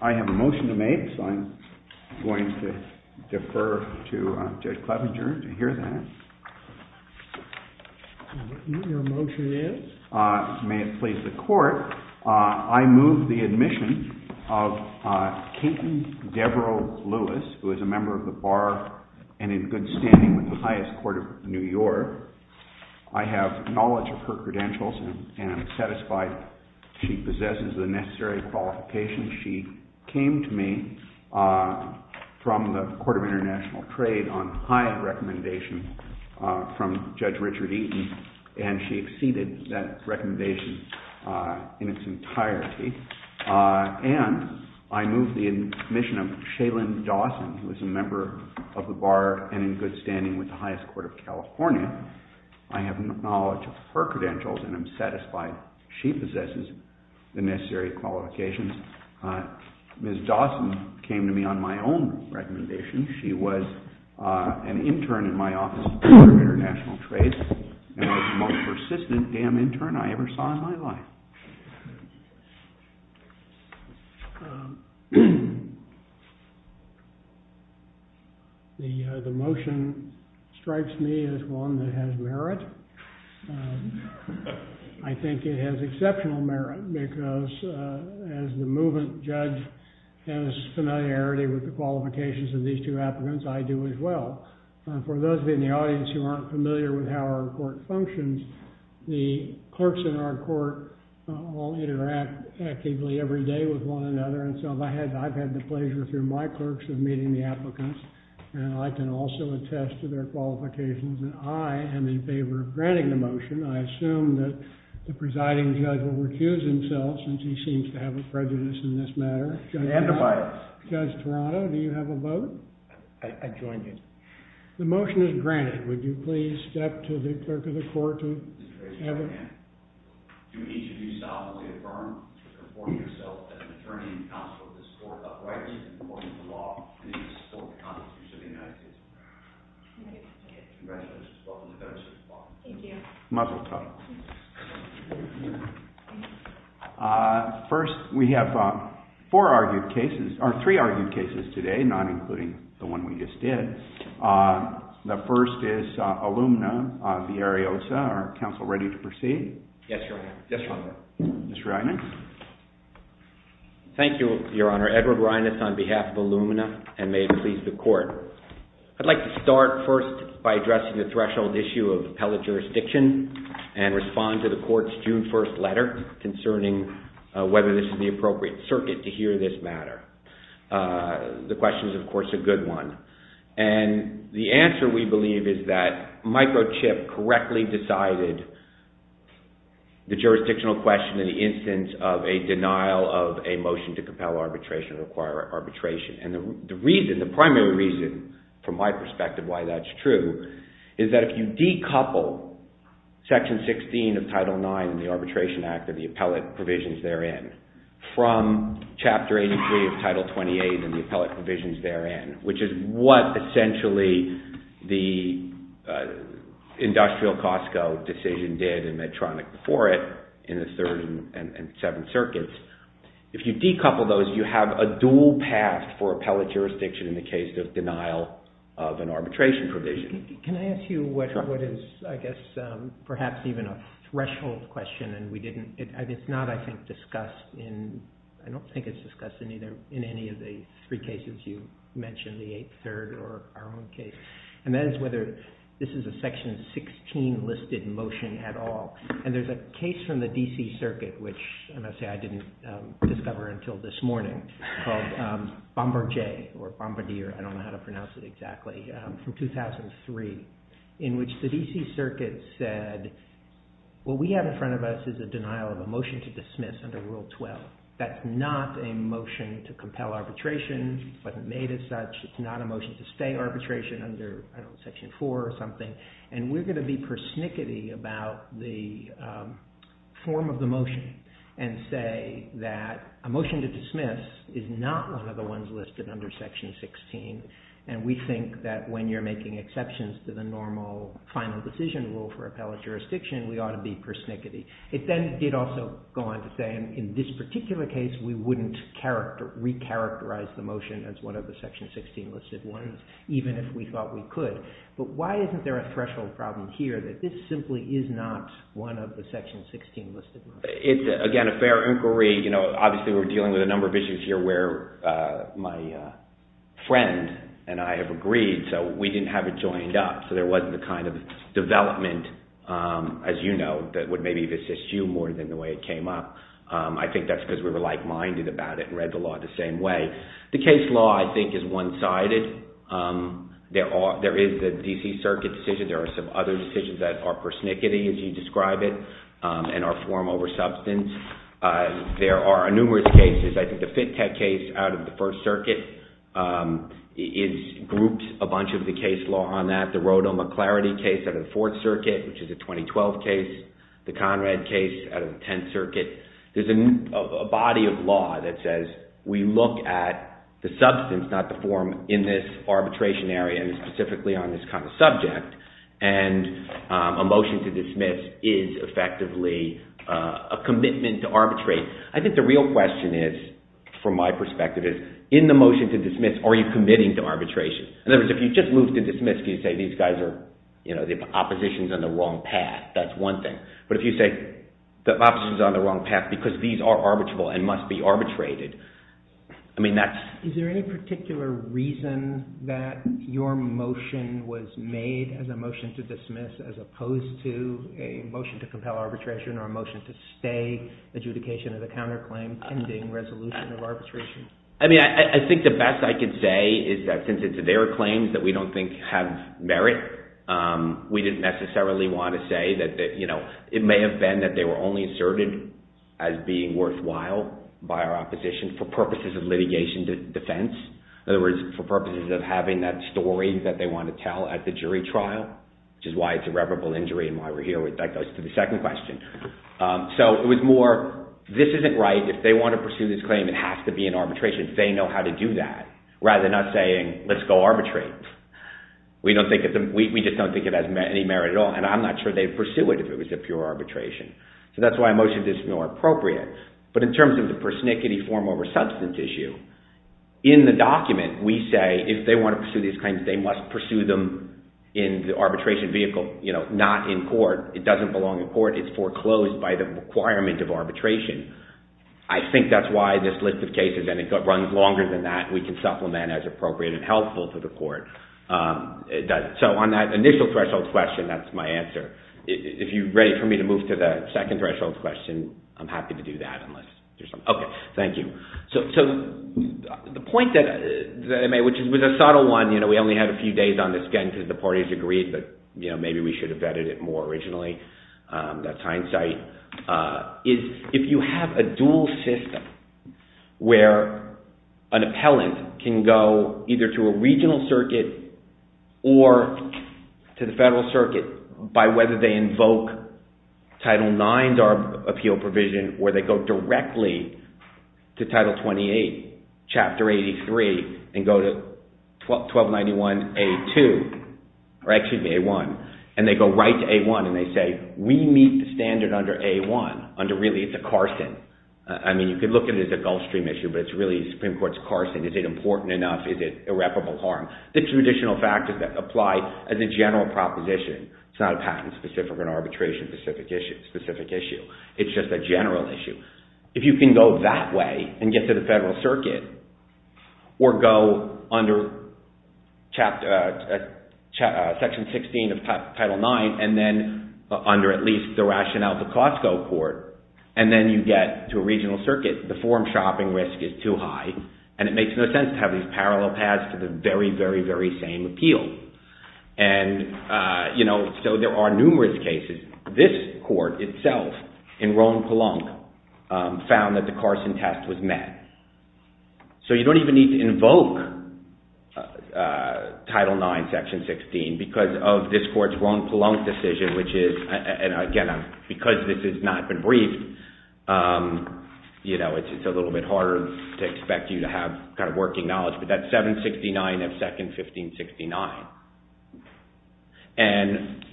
I have a motion to make, so I'm going to defer to Judge Clevenger to hear that. Your motion is? May it please the court, I move the admission of Katen Deverell Lewis, who is a member of the Bar and in good standing with the highest court of New York. I have knowledge of her credentials and am satisfied she possesses the necessary qualifications. She came to me from the Court of International Trade on high recommendation from Judge Richard Eaton, and she exceeded that recommendation in its entirety. And I move the admission of Shailen Dawson, who is a member of the Bar and in good standing with the highest court of California. I have knowledge of her credentials and am satisfied she possesses the necessary qualifications. Ms. Dawson came to me on my own recommendation. She was an intern in my office at the Court of International Trade, and was the most persistent damn intern I ever saw in my life. The motion strikes me as one that has merit. I think it has exceptional merit, because as the movement judge has familiarity with the qualifications of these two applicants, I do as well. For those of you in the audience who aren't familiar with how our court functions, the clerks in our court all interact actively every day with one another. I've had the pleasure through my clerks of meeting the applicants, and I can also attest to their qualifications that I am in favor of granting the motion. I assume that the presiding judge will recuse himself, since he seems to have a prejudice in this matter. Judge Toronto, do you have a vote? I join you. The motion is granted. Would you please step to the clerk of the court? Do each of you solemnly affirm or confirm yourself as an attorney and counsel of this court, upright and in accordance with the law, and in the support of the Constitution of the United States of America? Congratulations. Welcome to the bench. Thank you. First, we have three argued cases today, not including the one we just did. The first is Illumina v. Ariosa. Are counsel ready to proceed? Yes, Your Honor. Yes, Your Honor. Mr. Reines? Thank you, Your Honor. Edward Reines on behalf of Illumina, and may it please the court. I'd like to start first by addressing the threshold issue of appellate jurisdiction and respond to the court's June 1st letter concerning whether this is the appropriate circuit to hear this matter. The question is, of course, a good one. And the answer, we believe, is that microchip correctly decided the jurisdictional question in the instance of a denial of a motion to compel arbitration or require arbitration. And the primary reason, from my perspective, why that's true is that if you decouple Section 16 of Title IX and the Arbitration Act and the appellate provisions therein from Chapter 83 of Title 28 and the appellate provisions therein, which is what essentially the industrial Costco decision did in Medtronic before it in the Third and Seventh Circuits, if you decouple those, you have a dual path for appellate jurisdiction in the case of denial of an arbitration provision. Can I ask you what is, I guess, perhaps even a threshold question? And we didn't – it's not, I think, discussed in – I don't think it's discussed in any of the three cases you mentioned, the Eighth, Third, or our own case. And that is whether this is a Section 16 listed motion at all. And there's a case from the D.C. Circuit, which I must say I didn't discover until this morning, called Bombardier from 2003, in which the D.C. Circuit said what we have in front of us is a denial of a motion to dismiss under Rule 12. That's not a motion to compel arbitration. It wasn't made as such. It's not a motion to stay arbitration under, I don't know, Section 4 or something. And we're going to be persnickety about the form of the motion and say that a motion to dismiss is not one of the ones listed under Section 16. And we think that when you're making exceptions to the normal final decision rule for appellate jurisdiction, we ought to be persnickety. It then did also go on to say in this particular case, we wouldn't recharacterize the motion as one of the Section 16 listed ones, even if we thought we could. But why isn't there a threshold problem here that this simply is not one of the Section 16 listed motions? Again, a fair inquiry. Obviously, we're dealing with a number of issues here where my friend and I have agreed, so we didn't have it joined up. So there wasn't the kind of development, as you know, that would maybe assist you more than the way it came up. I think that's because we were like-minded about it and read the law the same way. The case law, I think, is one-sided. There is the D.C. Circuit decision. There are some other decisions that are persnickety, as you describe it, and are form over substance. There are numerous cases. I think the Fittek case out of the First Circuit is grouped a bunch of the case law on that. The Rodell-McClarity case out of the Fourth Circuit, which is a 2012 case. The Conrad case out of the Tenth Circuit. There's a body of law that says we look at the substance, not the form, in this arbitration area and specifically on this kind of subject, and a motion to dismiss is effectively a commitment to arbitrate. I think the real question is, from my perspective, is in the motion to dismiss, are you committing to arbitration? In other words, if you just move to dismiss, can you say these guys are-the opposition is on the wrong path? That's one thing. But if you say the opposition is on the wrong path because these are arbitrable and must be arbitrated, I mean, that's- Is there any particular reason that your motion was made as a motion to dismiss as opposed to a motion to compel arbitration or a motion to stay adjudication of the counterclaim pending resolution of arbitration? I mean, I think the best I can say is that since it's their claims that we don't think have merit, we didn't necessarily want to say that-it may have been that they were only asserted as being worthwhile by our opposition for purposes of litigation defense. In other words, for purposes of having that story that they want to tell at the jury trial, which is why it's irreparable injury and why we're here. That goes to the second question. So it was more, this isn't right. If they want to pursue this claim, it has to be an arbitration. They know how to do that, rather than us saying, let's go arbitrate. We just don't think it has any merit at all, and I'm not sure they'd pursue it if it was a pure arbitration. So that's why I motioned this is more appropriate. But in terms of the persnickety form over substance issue, in the document we say if they want to pursue these claims, they must pursue them in the arbitration vehicle, not in court. It doesn't belong in court. It's foreclosed by the requirement of arbitration. I think that's why this list of cases, and it runs longer than that, we can supplement as appropriate and helpful to the court. So on that initial threshold question, that's my answer. If you're ready for me to move to the second threshold question, I'm happy to do that. Okay, thank you. So the point that I made, which was a subtle one, we only had a few days on this again because the parties agreed, but maybe we should have vetted it more originally. That's hindsight. If you have a dual system where an appellant can go either to a regional circuit or to the federal circuit by whether they invoke Title IX or appeal provision, where they go directly to Title 28, Chapter 83, and go to 1291A1, and they go right to A1, and they say, we meet the standard under A1. Really, it's a Carson. I mean, you could look at it as a Gulf Stream issue, but it's really the Supreme Court's Carson. Is it important enough? Is it irreparable harm? The traditional factors that apply as a general proposition. It's not a patent-specific or an arbitration-specific issue. It's just a general issue. If you can go that way and get to the federal circuit, or go under Section 16 of Title IX, and then under at least the rationale of the Costco court, and then you get to a regional circuit, the form-shopping risk is too high, and it makes no sense to have these parallel paths to the very, very, very same appeal. And so there are numerous cases. This court itself, in Rhone-Pelonc, found that the Carson test was met. So you don't even need to invoke Title IX, Section 16, because of this court's Rhone-Pelonc decision, which is, and again, because this has not been briefed, it's a little bit harder to expect you to have kind of working knowledge, but that's 769 of Second 1569. And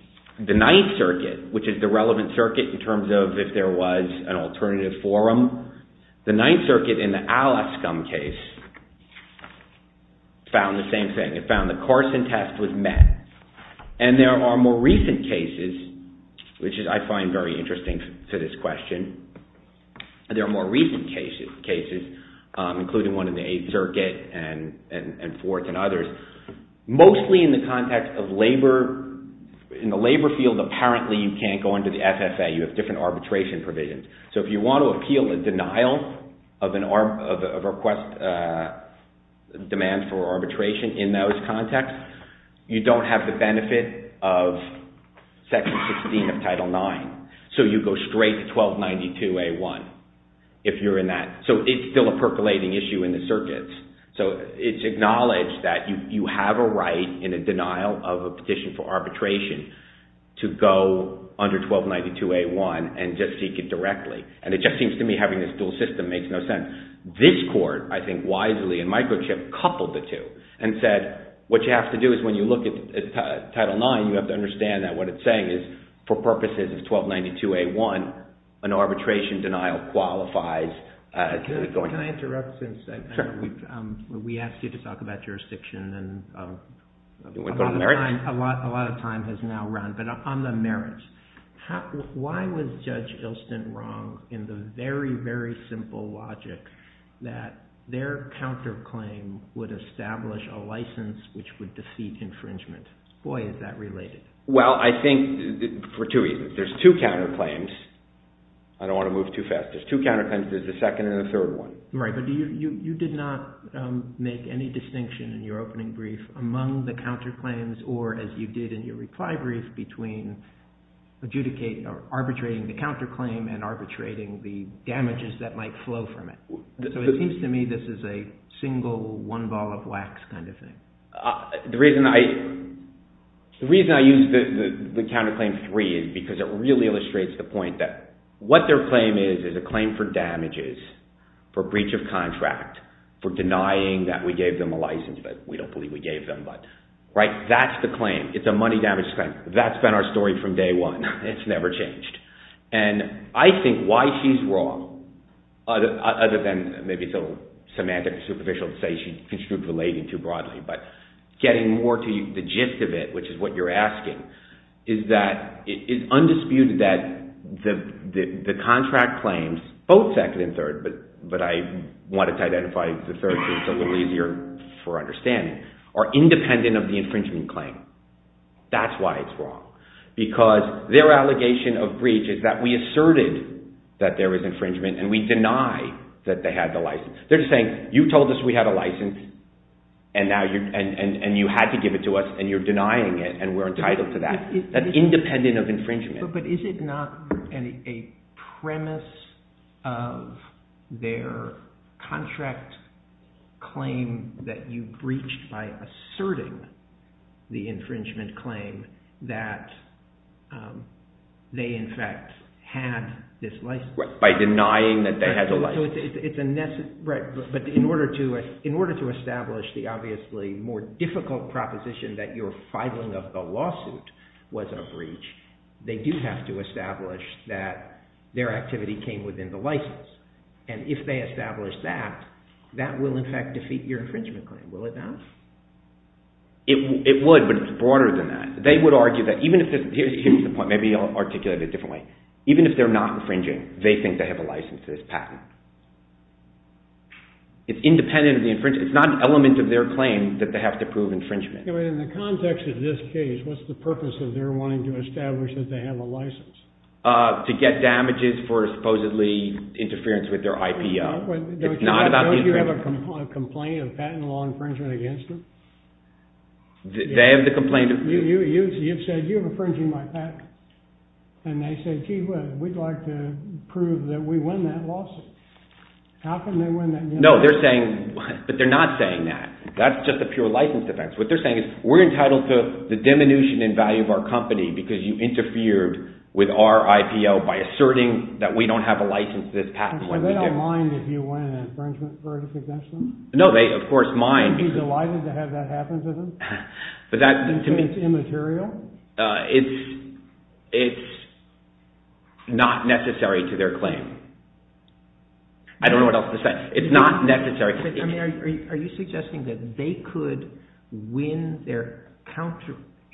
the Ninth Circuit, which is the relevant circuit in terms of if there was an alternative forum, the Ninth Circuit in the Alaskum case found the same thing. It found the Carson test was met. And there are more recent cases, which I find very interesting to this question. There are more recent cases, including one in the Eighth Circuit and forth and others. Mostly in the context of labor. In the labor field, apparently you can't go into the FFA. You have different arbitration provisions. So if you want to appeal a denial of a request, demand for arbitration in those contexts, you don't have the benefit of Section 16 of Title IX. So you go straight to 1292A1 if you're in that. So it's still a percolating issue in the circuits. So it's acknowledged that you have a right in a denial of a petition for arbitration to go under 1292A1 and just seek it directly. And it just seems to me having this dual system makes no sense. This court, I think wisely, in Microchip, coupled the two and said, what you have to do is when you look at Title IX, you have to understand that what it's saying is for purposes of 1292A1, an arbitration denial qualifies. Can I interrupt for a second? We asked you to talk about jurisdiction and a lot of time has now run. But on the merits, why was Judge Ilstent wrong in the very, very simple logic that their counterclaim would establish a license which would defeat infringement? Boy, is that related. Well, I think for two reasons. There's two counterclaims. I don't want to move too fast. There's two counterclaims. There's a second and a third one. Right. But you did not make any distinction in your opening brief among the counterclaims or as you did in your reply brief between arbitrating the counterclaim and arbitrating the damages that might flow from it. So it seems to me this is a single one ball of wax kind of thing. The reason I use the counterclaim three is because it really illustrates the point that what their claim is is a claim for damages, for breach of contract, for denying that we gave them a license that we don't believe we gave them. Right. That's the claim. It's a money damage claim. That's been our story from day one. It's never changed. And I think why she's wrong, other than maybe it's a little semantic or superficial to say she's construed relating too broadly, but getting more to the gist of it, which is what you're asking, is that it's undisputed that the contract claims, both second and third, but I wanted to identify the third one so it's a little easier for understanding, are independent of the infringement claim. That's why it's wrong. Because their allegation of breach is that we asserted that there was infringement and we denied that they had the license. They're just saying you told us we had a license and you had to give it to us and you're denying it and we're entitled to that. That's independent of infringement. But is it not a premise of their contract claim that you breached by asserting the infringement claim that they in fact had this license? By denying that they had the license. Right, but in order to establish the obviously more difficult proposition that your filing of the lawsuit was a breach, they do have to establish that their activity came within the license. And if they establish that, that will in fact defeat your infringement claim. Will it not? It would, but it's broader than that. They would argue that, here's the point, maybe I'll articulate it a different way. Even if they're not infringing, they think they have a license to this patent. It's independent of the infringement. It's not an element of their claim that they have to prove infringement. But in the context of this case, what's the purpose of their wanting to establish that they have a license? To get damages for supposedly interference with their IPO. Don't you have a complaint of patent law infringement against them? You've said you're infringing my patent. And they say, gee whiz, we'd like to prove that we win that lawsuit. How can they win that lawsuit? No, they're saying, but they're not saying that. That's just a pure license defense. What they're saying is we're entitled to the diminution in value of our company because you interfered with our IPO by asserting that we don't have a license to this patent when we do. So they don't mind if you win an infringement verdict against them? No, they of course mind. Would you be delighted to have that happen to them? Because it's immaterial? It's not necessary to their claim. I don't know what else to say. It's not necessary. Are you suggesting that they could win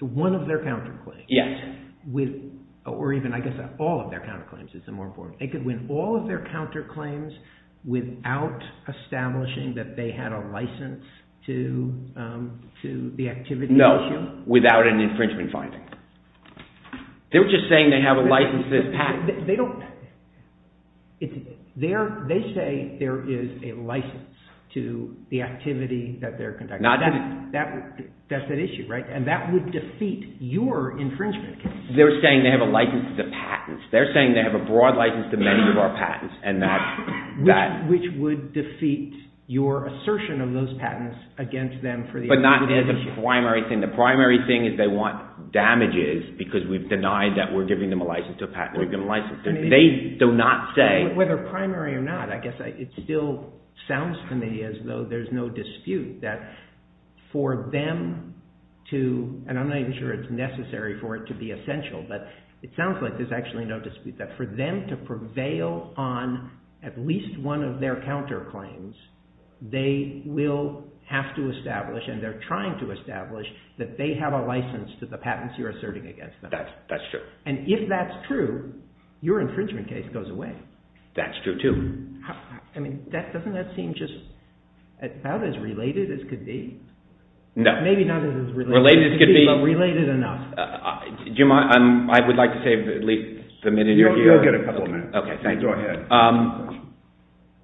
one of their counterclaims? Yes. Or even, I guess, all of their counterclaims is the more important. They could win all of their counterclaims without establishing that they had a license to the activity issue? No, without an infringement finding. They're just saying they have a license to this patent. They say there is a license to the activity that they're conducting. That's at issue, right? And that would defeat your infringement case. They're saying they have a license to patents. They're saying they have a broad license to many of our patents. Which would defeat your assertion of those patents against them but not as a primary thing. The primary thing is they want damages because we've denied that we're giving them a license to a patent. They do not say. Whether primary or not, I guess it still sounds to me as though there's no dispute that for them to, and I'm not even sure it's necessary for it to be essential, but it sounds like there's actually no dispute that for them to prevail on at least one of their counterclaims, they will have to establish and they're trying to establish that they have a license to the patents you're asserting against them. That's true. And if that's true, your infringement case goes away. That's true too. I mean, doesn't that seem just about as related as could be? No. Maybe not as related. Related as could be. Related enough. Do you mind? I would like to save at least a minute of your time. You'll get a couple of minutes. Okay, thanks. Go ahead.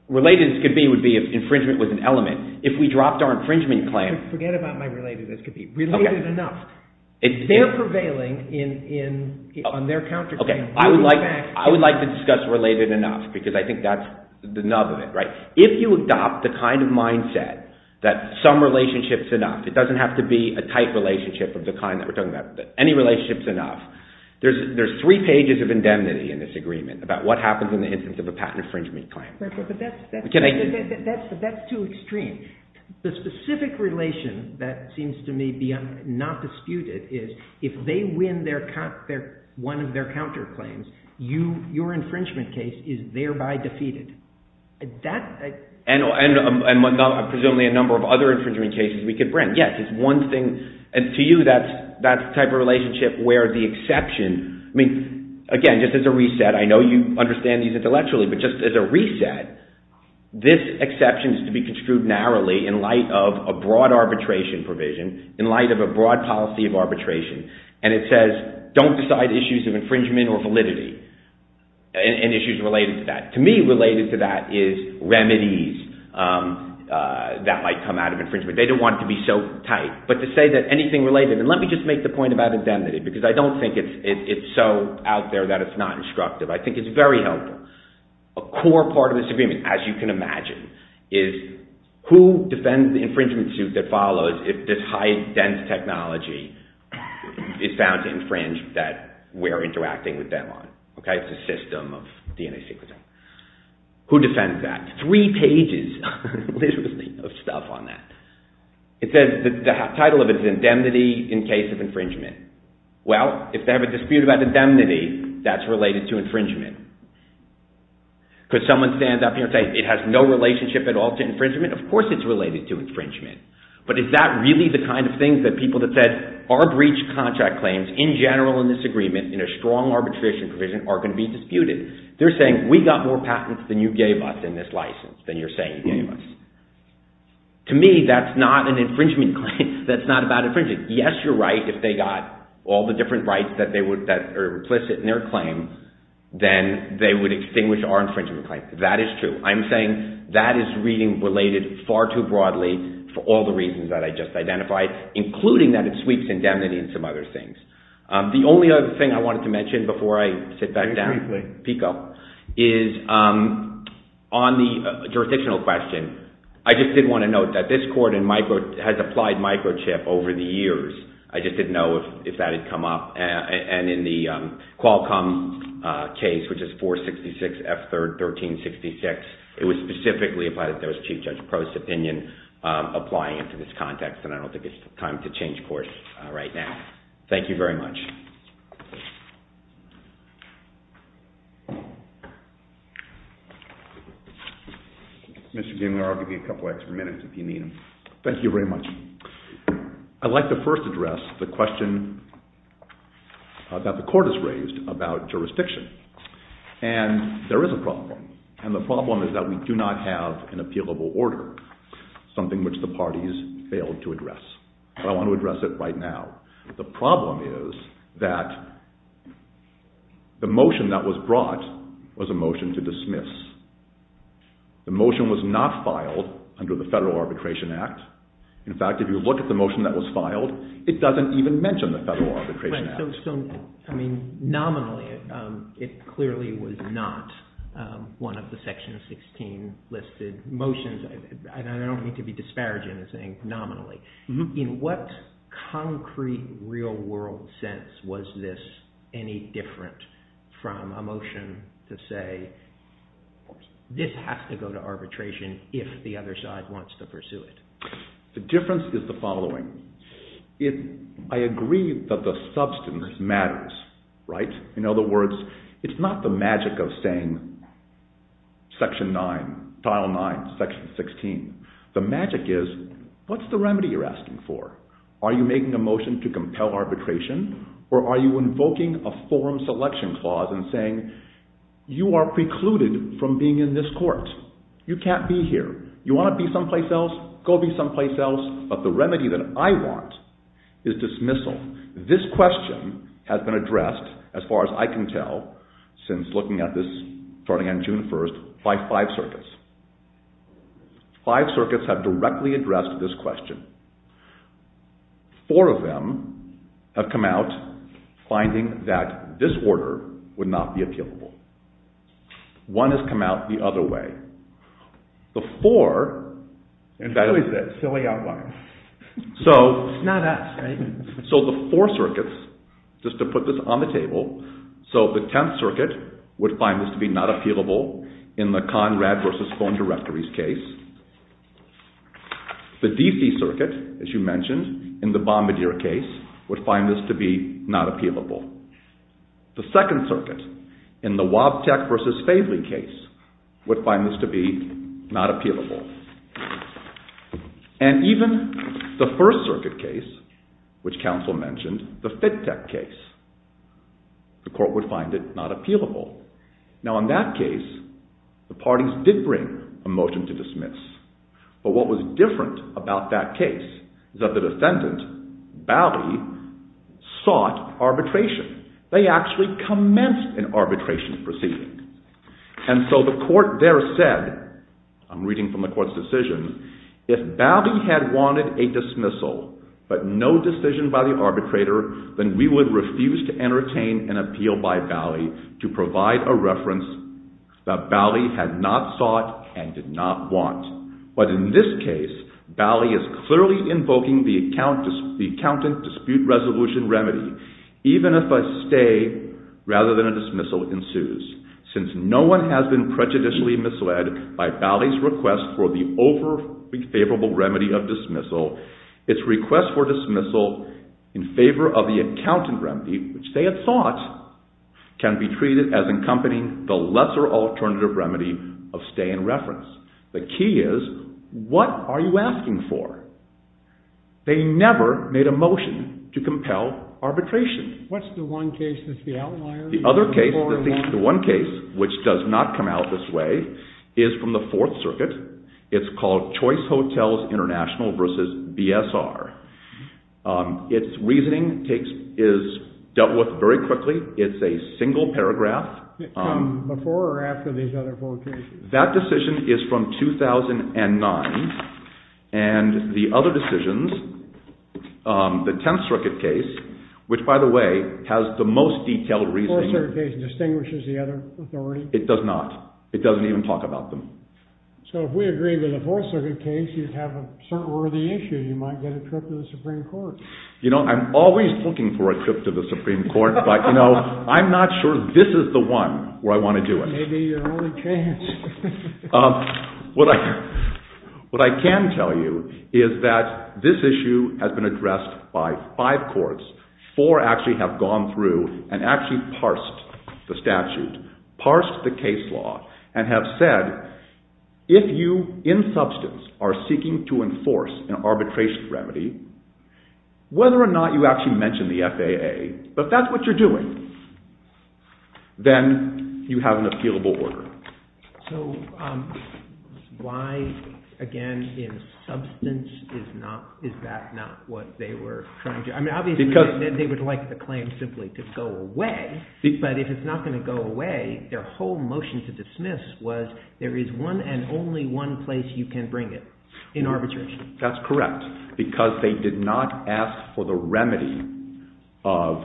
Related as could be would be if infringement was an element. If we dropped our infringement claim. Forget about my related as could be. Related enough. They're prevailing on their counterclaim. I would like to discuss related enough because I think that's the nub of it. If you adopt the kind of mindset that some relationship's enough, it doesn't have to be a tight relationship of the kind that we're talking about, but any relationship's enough, there's three pages of indemnity in this agreement about what happens in the instance of a patent infringement claim. But that's too extreme. The specific relation that seems to me not disputed is if they win one of their counterclaims, your infringement case is thereby defeated. And presumably a number of other infringement cases we could bring. Yes, it's one thing. And to you, that type of relationship where the exception, I mean, again, just as a reset, I know you understand these intellectually, but just as a reset, this exception is to be construed narrowly in light of a broad arbitration provision, in light of a broad policy of arbitration. And it says, don't decide issues of infringement or validity and issues related to that. To me, related to that is remedies that might come out of infringement. They don't want it to be so tight. But to say that anything related, and let me just make the point about indemnity because I don't think it's so out there that it's not instructive. I think it's very helpful. A core part of this agreement, as you can imagine, is who defends the infringement suit that follows if this high-density technology is found to infringe that we're interacting with them on. It's a system of DNA sequencing. Who defends that? Three pages, literally, of stuff on that. It says the title of it is Indemnity in Case of Infringement. Well, if they have a dispute about indemnity, that's related to infringement. Could someone stand up and say it has no relationship at all to infringement? Of course it's related to infringement. But is that really the kind of thing that people that said our breach contract claims, in general in this agreement, in a strong arbitration provision, are going to be disputed? They're saying we got more patents than you gave us in this license, than you're saying you gave us. To me, that's not an infringement claim. That's not about infringement. Yes, you're right if they got all the different rights that are implicit in their claim, then they would extinguish our infringement claim. That is true. I'm saying that is reading related far too broadly for all the reasons that I just identified, including that it sweeps indemnity and some other things. The only other thing I wanted to mention before I sit back down, Pico, is on the jurisdictional question. I just did want to note that this court has applied microchip over the years. I just didn't know if that had come up and in the Qualcomm case, which is 466 F3rd 1366, it was specifically applied that there was Chief Judge Prost's opinion applying it to this context, and I don't think it's time to change course right now. Thank you very much. Mr. Gingler, I'll give you a couple of extra minutes if you need them. Thank you very much. I'd like to first address the question that the court has raised about jurisdiction, and there is a problem, and the problem is that we do not have an appealable order, something which the parties failed to address. I want to address it right now. The problem is that the motion that was brought was a motion to dismiss. The motion was not filed under the Federal Arbitration Act. In fact, if you look at the motion that was filed, it doesn't even mention the Federal Arbitration Act. I mean, nominally, it clearly was not one of the Section 16 listed motions, and I don't mean to be disparaging in saying nominally. In what concrete, real-world sense was this any different from a motion to say, this has to go to arbitration if the other side wants to pursue it? The difference is the following. I agree that the substance matters, right? In other words, it's not the magic of saying Section 9, Tile 9, Section 16. The magic is, what's the remedy you're asking for? Are you making a motion to compel arbitration, or are you invoking a form selection clause and saying you are precluded from being in this court? You can't be here. You want to be someplace else? Go be someplace else. But the remedy that I want is dismissal. This question has been addressed, as far as I can tell, since looking at this starting on June 1st, by five circuits. Five circuits have directly addressed this question. Four of them have come out finding that this order would not be appealable. One has come out the other way. The four... And who is that silly outlaw? It's not us, right? So the four circuits, just to put this on the table, so the 10th circuit would find this to be not appealable in the Conrad v. Phone Directories case. The DC circuit, as you mentioned, in the Bombardier case, would find this to be not appealable. The 2nd circuit, in the Wabteck v. Favely case, would find this to be not appealable. And even the 1st circuit case, which counsel mentioned, the Fittek case, the court would find it not appealable. Now, in that case, the parties did bring a motion to dismiss. But what was different about that case is that the defendant, Bally, sought arbitration. They actually commenced an arbitration proceeding. And so the court there said, I'm reading from the court's decision, If Bally had wanted a dismissal but no decision by the arbitrator, then we would refuse to entertain an appeal by Bally to provide a reference that Bally had not sought and did not want. But in this case, Bally is clearly invoking the accountant dispute resolution remedy, even if a stay rather than a dismissal ensues. Since no one has been prejudicially misled by Bally's request for the over-favorable remedy of dismissal, its request for dismissal in favor of the accountant remedy, which they had thought can be treated as accompanying the lesser alternative remedy of stay and reference. The key is, what are you asking for? They never made a motion to compel arbitration. What's the one case that's the outlier? The other case, the one case which does not come out this way, is from the Fourth Circuit. It's called Choice Hotels International v. BSR. Its reasoning is dealt with very quickly. It's a single paragraph. Before or after these other four cases? That decision is from 2009, and the other decisions, the Tenth Circuit case, which, by the way, has the most detailed reasoning. The Fourth Circuit case distinguishes the other authorities? It does not. It doesn't even talk about them. So if we agree with the Fourth Circuit case, you'd have a certain worthy issue. You might get a trip to the Supreme Court. You know, I'm always looking for a trip to the Supreme Court, but, you know, I'm not sure this is the one where I want to do it. It may be your only chance. What I can tell you is that this issue has been addressed by five courts. Four actually have gone through and actually parsed the statute, parsed the case law, and have said, if you in substance are seeking to enforce an arbitration remedy, whether or not you actually mention the FAA, if that's what you're doing, then you have an appealable order. So why, again, in substance, is that not what they were trying to do? I mean, obviously they would like the claim simply to go away, but if it's not going to go away, their whole motion to dismiss was, there is one and only one place you can bring it in arbitration. That's correct. Because they did not ask for the remedy of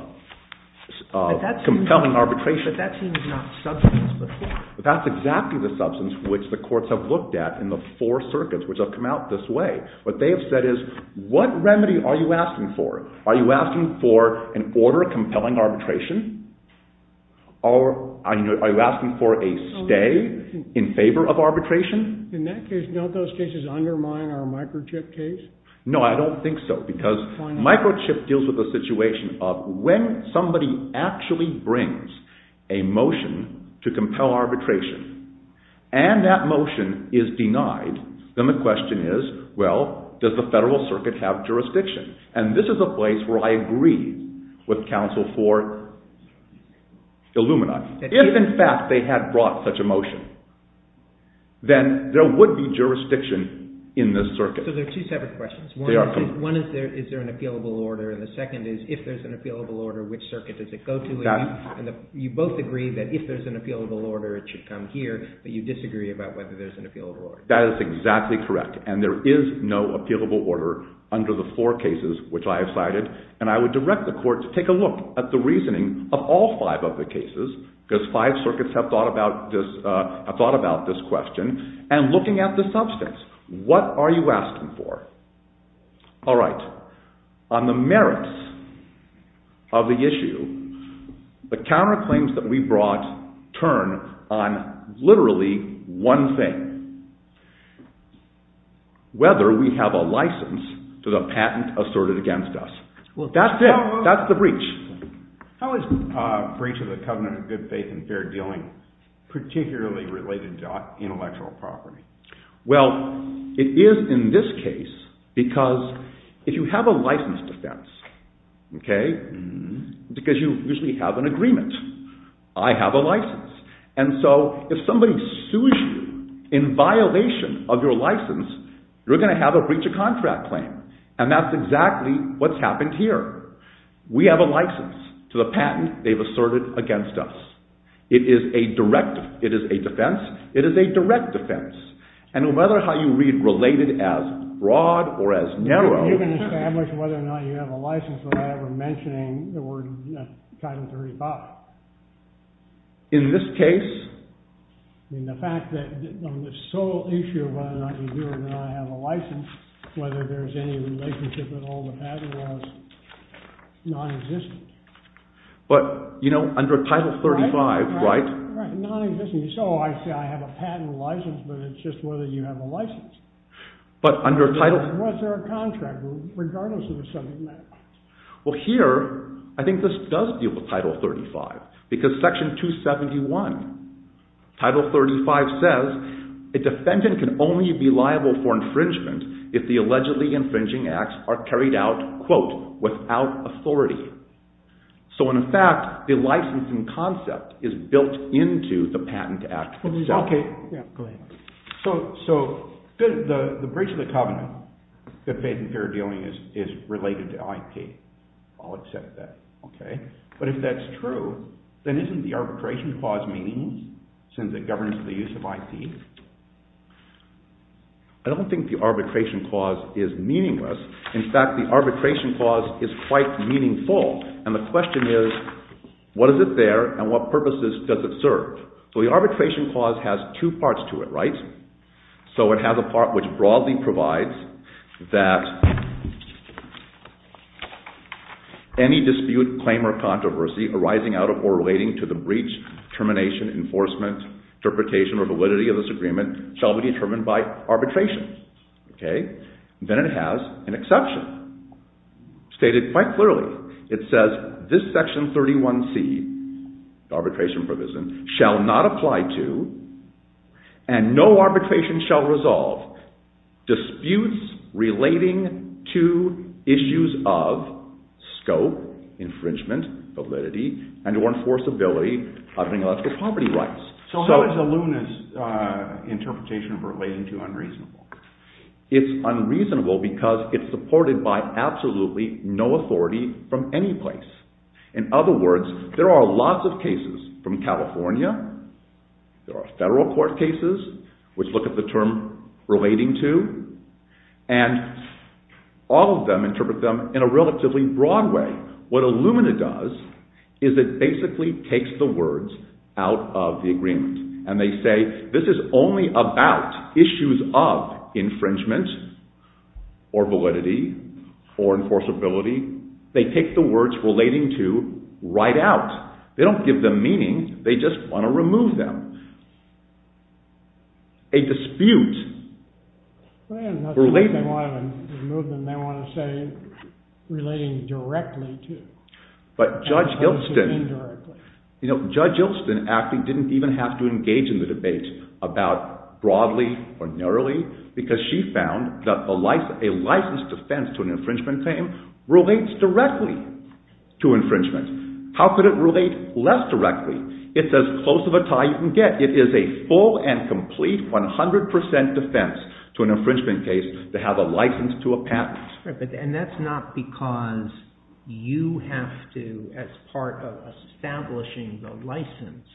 compelling arbitration. But that seems not substance before. That's exactly the substance which the courts have looked at in the four circuits which have come out this way. What they have said is, what remedy are you asking for? Are you asking for an order of compelling arbitration? Or are you asking for a stay in favor of arbitration? In that case, don't those cases undermine our microchip case? No, I don't think so. Because microchip deals with the situation of when somebody actually brings a motion to compel arbitration and that motion is denied, then the question is, well, does the federal circuit have jurisdiction? And this is a place where I agree with counsel for Illuminati. If, in fact, they had brought such a motion, then there would be jurisdiction in this circuit. So there are two separate questions. One is, is there an appealable order? And the second is, if there's an appealable order, which circuit does it go to? You both agree that if there's an appealable order, it should come here, but you disagree about whether there's an appealable order. That is exactly correct. And there is no appealable order under the four cases which I have cited. And I would direct the court to take a look at the reasoning of all five of the cases, because five circuits have thought about this question, and looking at the substance. What are you asking for? All right. On the merits of the issue, the counterclaims that we brought turn on literally one thing, whether we have a license to the patent asserted against us. That's it. That's the breach. How is breach of the covenant of good faith and fair dealing particularly related to intellectual property? Well, it is in this case, because if you have a license defense, because you usually have an agreement. I have a license. And so if somebody sues you in violation of your license, you're going to have a breach of contract claim. And that's exactly what's happened here. We have a license to the patent they've asserted against us. It is a defense. It is a direct defense. And no matter how you read related as broad or as narrow. You can establish whether or not you have a license without ever mentioning the word Title 35. In this case? In the fact that the sole issue of whether or not you do or do not have a license, whether there's any relationship at all with patent laws, non-existent. But, you know, under Title 35, right? Right. Non-existent. You say, oh, I see, I have a patent license, but it's just whether you have a license. But under Title... Was there a contract, regardless of the subject matter? Well, here, I think this does deal with Title 35. Because Section 271, Title 35 says, a defendant can only be liable for infringement if the allegedly infringing acts are carried out, quote, without authority. So, in fact, the licensing concept is built into the patent act itself. Okay. Yeah, go ahead. So the breach of the covenant that faith and fear are dealing is related to IP. I'll accept that, okay? But if that's true, then isn't the arbitration clause meaning since it governs the use of IP? I don't think the arbitration clause is meaningless. In fact, the arbitration clause is quite meaningful. And the question is, what is it there, and what purposes does it serve? So the arbitration clause has two parts to it, right? So it has a part which broadly provides that any dispute, claim, or controversy arising out of or relating to the breach, termination, enforcement, interpretation, or validity of this agreement shall be determined by arbitration. Okay? Then it has an exception. Stated quite clearly, it says, this Section 31C, the arbitration provision, shall not apply to, and no arbitration shall resolve, disputes relating to issues of scope, infringement, validity, and or enforceability of intellectual property rights. So how is Illumina's interpretation of relating to unreasonable? It's unreasonable because it's supported by absolutely no authority from any place. In other words, there are lots of cases from California. There are federal court cases which look at the term relating to, and all of them interpret them in a relatively broad way. What Illumina does is it basically takes the words out of the agreement, and they say, this is only about issues of infringement, or validity, or enforceability. They take the words relating to right out. They don't give them meaning. They just want to remove them. A dispute. The movement may want to say relating directly to. But Judge Ilston, you know, Judge Ilston actually didn't even have to engage in the debate about broadly or narrowly because she found that a licensed offense to an infringement claim relates directly to infringement. How could it relate less directly? It's as close of a tie you can get. It is a full and complete 100% defense to an infringement case to have a license to a patent. And that's not because you have to, as part of establishing the license,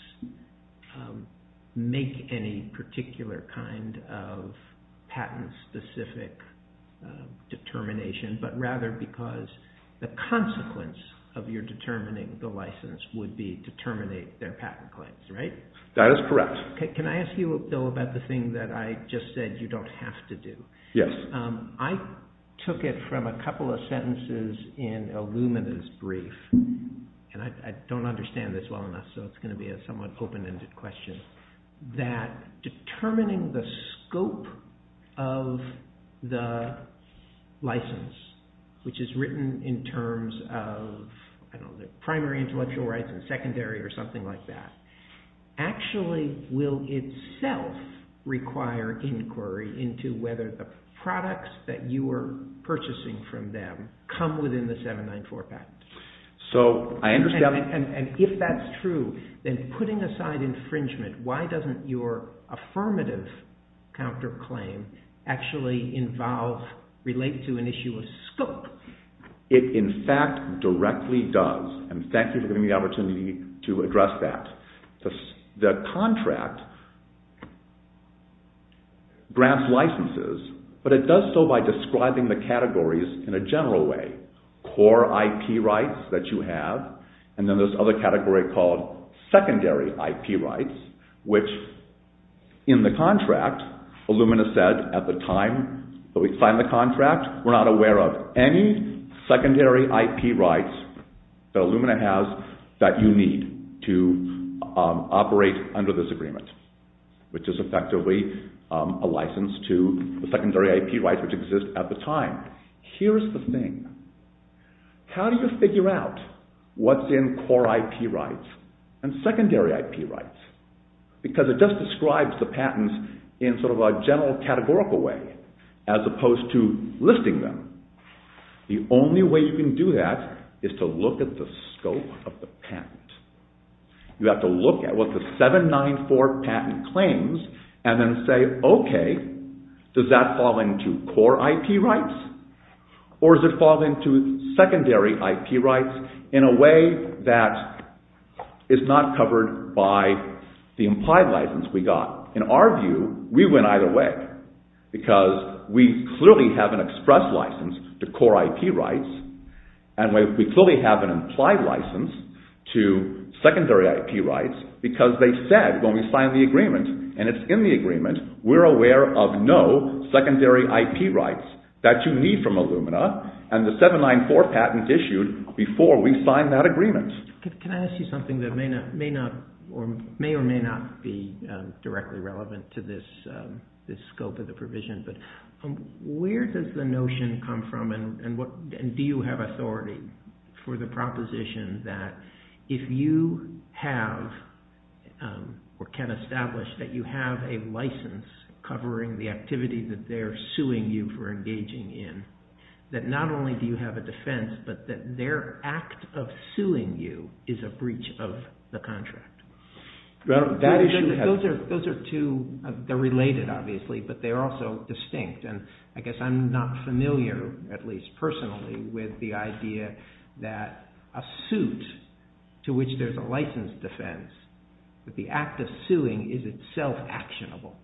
make any particular kind of patent-specific determination, but rather because the consequence of your determining the license would be to terminate their patent claims, right? That is correct. Can I ask you, though, about the thing that I just said you don't have to do? Yes. I took it from a couple of sentences in Illumina's brief, and I don't understand this well enough, so it's going to be a somewhat open-ended question, that determining the scope of the license, which is written in terms of the primary intellectual rights and secondary or something like that, actually will itself require inquiry into whether the products that you are purchasing from them come within the 794 patent. So, I understand. And if that's true, then putting aside infringement, why doesn't your affirmative counterclaim actually relate to an issue of scope? It, in fact, directly does. And thank you for giving me the opportunity to address that. The contract grants licenses, but it does so by describing the categories in a general way. Core IP rights that you have, and then this other category called secondary IP rights, which in the contract, Illumina said at the time that we signed the contract, we're not aware of any secondary IP rights that Illumina has that you need to operate under this agreement, which is effectively a license to the secondary IP rights which exist at the time. Here's the thing. How do you figure out what's in core IP rights and secondary IP rights? Because it just describes the patents in sort of a general categorical way as opposed to listing them. The only way you can do that is to look at the scope of the patent. You have to look at what the 794 patent claims and then say, okay, does that fall into core IP rights or does it fall into secondary IP rights in a way that is not covered by the implied license we got? In our view, we went either way because we clearly have an express license to core IP rights and we clearly have an implied license to secondary IP rights because they said, when we signed the agreement and it's in the agreement, we're aware of no secondary IP rights that you need from Illumina and the 794 patent issued before we signed that agreement. Can I ask you something that may or may not be directly relevant to this scope of the provision? Where does the notion come from and do you have authority for the proposition that if you have or can establish that you have a license covering the activity that they're suing you for engaging in, that not only do you have a defense, but that their act of suing you is a breach of the contract? Those are two, they're related obviously, but they're also distinct. I guess I'm not familiar, at least personally, with the idea that a suit to which there's a license defense, that the act of suing is itself actionable.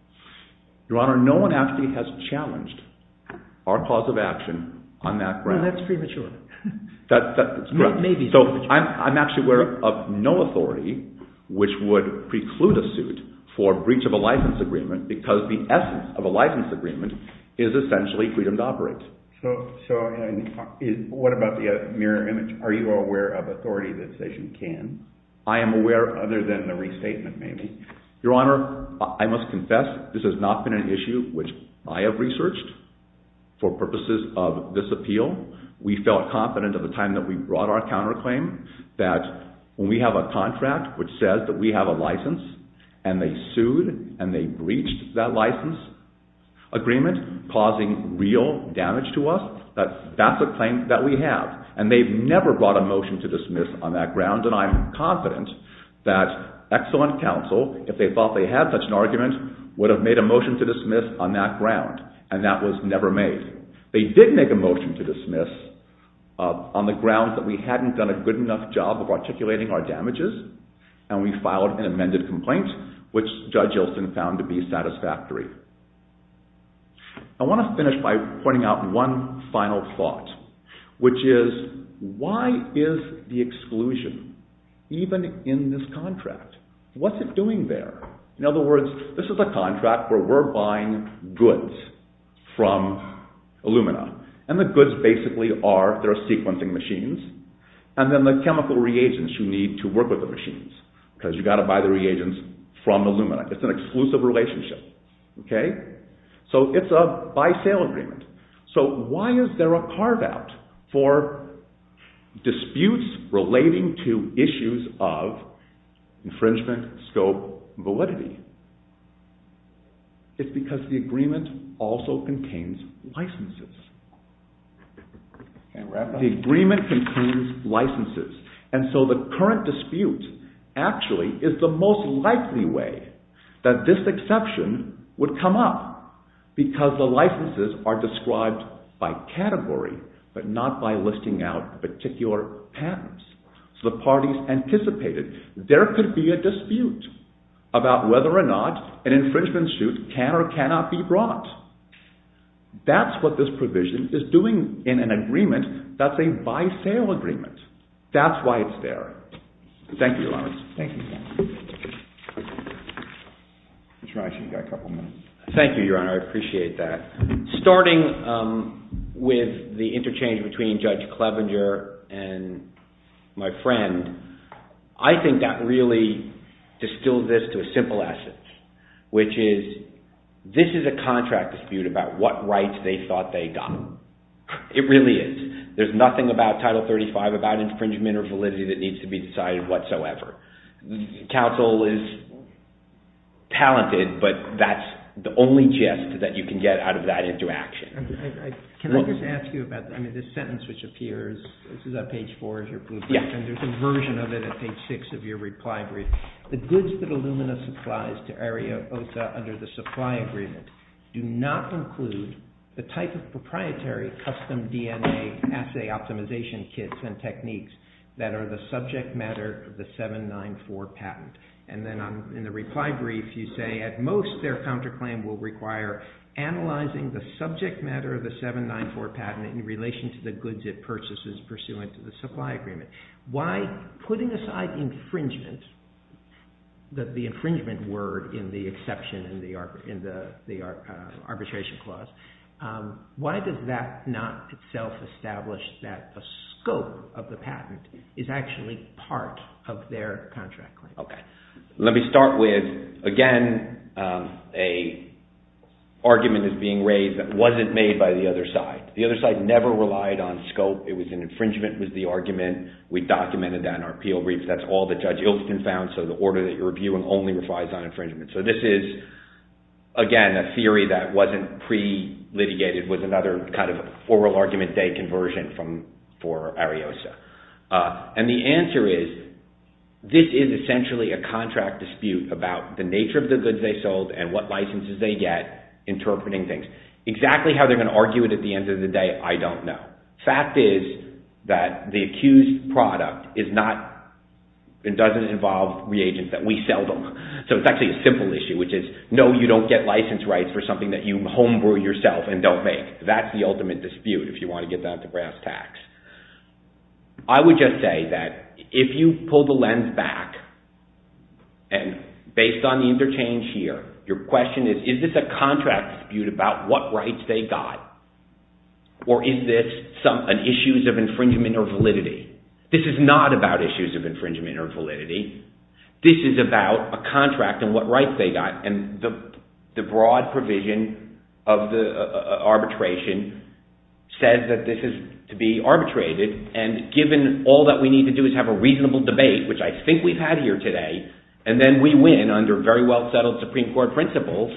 Your Honor, no one actually has challenged our cause of action on that ground. That's premature. I'm actually aware of no authority which would preclude a suit for breach of a license agreement because the essence of a license agreement is essentially freedom to operate. So what about the mirror image? Are you aware of authority that says you can? I am aware, other than the restatement maybe. Your Honor, I must confess, this has not been an issue which I have researched. For purposes of this appeal, we felt confident at the time that we brought our counterclaim that when we have a contract which says that we have a license, and they sued and they breached that license agreement causing real damage to us, that that's a claim that we have. And they've never brought a motion to dismiss on that ground, and I'm confident that excellent counsel, if they thought they had such an argument, would have made a motion to dismiss on that ground, and that was never made. They did make a motion to dismiss on the grounds that we hadn't done a good enough job of articulating our damages, and we filed an amended complaint, which Judge Ilsen found to be satisfactory. I want to finish by pointing out one final thought, which is, why is the exclusion even in this contract? What's it doing there? In other words, this is a contract where we're buying goods from Illumina, and the goods basically are their sequencing machines, and then the chemical reagents you need to work with the machines, because you've got to buy the reagents from Illumina. It's an exclusive relationship. So it's a buy-sale agreement. So why is there a carve-out for disputes relating to issues of infringement, scope, validity? It's because the agreement also contains licenses. The agreement contains licenses. And so the current dispute actually is the most likely way that this exception would come up, because the licenses are described by category, but not by listing out particular patents. So the parties anticipated there could be a dispute about whether or not an infringement suit can or cannot be brought. That's what this provision is doing in an agreement that's a buy-sale agreement. Thank you, Lawrence. Thank you, Your Honor. Thank you, Your Honor. I appreciate that. Starting with the interchange between Judge Clevenger and my friend, I think that really distilled this to a simple essence, which is this is a contract dispute about what rights they thought they got. It really is. There's nothing about Title 35, about infringement or validity, that needs to be decided whatsoever. Counsel is talented, but that's the only gist that you can get out of that interaction. Can I just ask you about this sentence which appears? This is on page four of your blueprint, and there's a version of it on page six of your reply brief. The goods that Illumina supplies to Area OTA under the supply agreement do not include the type of proprietary custom DNA assay optimization kits and techniques that are the subject matter of the 794 patent. Then in the reply brief, you say, at most their counterclaim will require analyzing the subject matter of the 794 patent in relation to the goods it purchases pursuant to the supply agreement. Why putting aside infringement, the infringement word in the exception in the arbitration clause, why does that not itself establish that the scope of the patent is actually part of their contract claim? Let me start with, again, an argument that's being raised that wasn't made by the other side. The other side never relied on scope. It was an infringement was the argument. We documented that in our appeal brief. That's all that Judge Ilken found, so the order that you're reviewing only relies on infringement. This is, again, a theory that wasn't pre-litigated with another kind of oral argument day conversion for Area OTA. The answer is, this is essentially a contract dispute about the nature of the goods they sold and what licenses they get interpreting things. Exactly how they're going to argue it at the end of the day, I don't know. Fact is that the accused product is not, it doesn't involve reagents that we sell them. It's actually a simple issue, which is, no, you don't get license rights for something that you homebrew yourself and don't make. That's the ultimate dispute if you want to get that at the brass tacks. I would just say that if you pull the lens back, and based on the interchange here, your question is, is this a contract dispute about what rights they got? Or is this an issues of infringement or validity? This is not about issues of infringement or validity. This is about a contract and what rights they got, and the broad provision of the arbitration says that this is to be arbitrated, and given all that we need to do is have a reasonable debate, which I think we've had here today, and then we win under very well settled Supreme Court principles,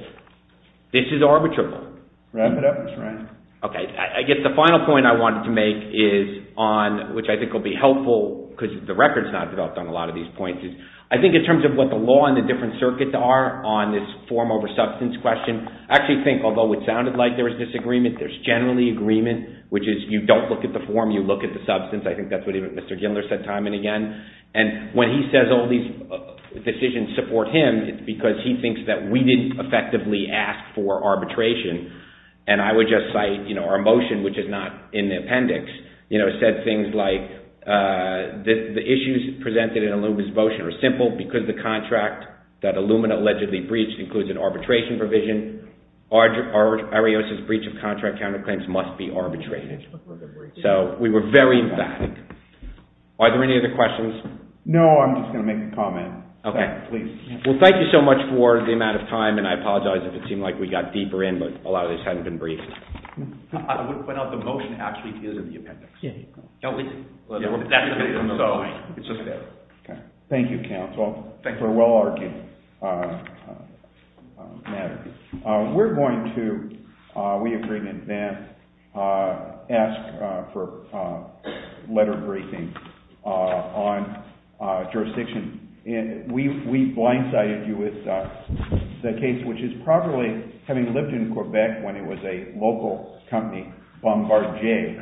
this is arbitrable. Okay, I guess the final point I wanted to make is on, which I think will be helpful, because the record's not developed on a lot of these points, is I think in terms of what the law and the different circuits are on this form over substance question, I actually think, although it sounded like there was disagreement, there's generally agreement, which is you don't look at the form, you look at the substance. I think that's what even Mr. Gindler said time and again, and when he says all these decisions support him, it's because he thinks that we didn't effectively ask for arbitration and I would just cite our motion, which is not in the appendix, said things like, the issues presented in Illumina's motion are simple, because the contract that Illumina allegedly breached includes an arbitration provision, Arios' breach of contract counterclaims must be arbitrated. So we were very emphatic. Are there any other questions? No, I'm just going to make a comment. Well, thank you so much for the amount of time, and I apologize if it seemed like we got deeper in, but a lot of this hasn't been briefed. I wouldn't point out the motion actually is in the appendix. Yeah. Thank you, counsel, for a well-argued matter. We're going to, we agree in advance, ask for letter briefing on jurisdiction. We blindsided you with the case, which is probably having lived in Quebec when it was a local company, Bombardier.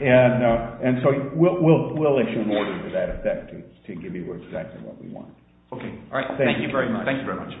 And so we'll issue an order to that effect to give you exactly what we want. Okay. All right. Thank you very much.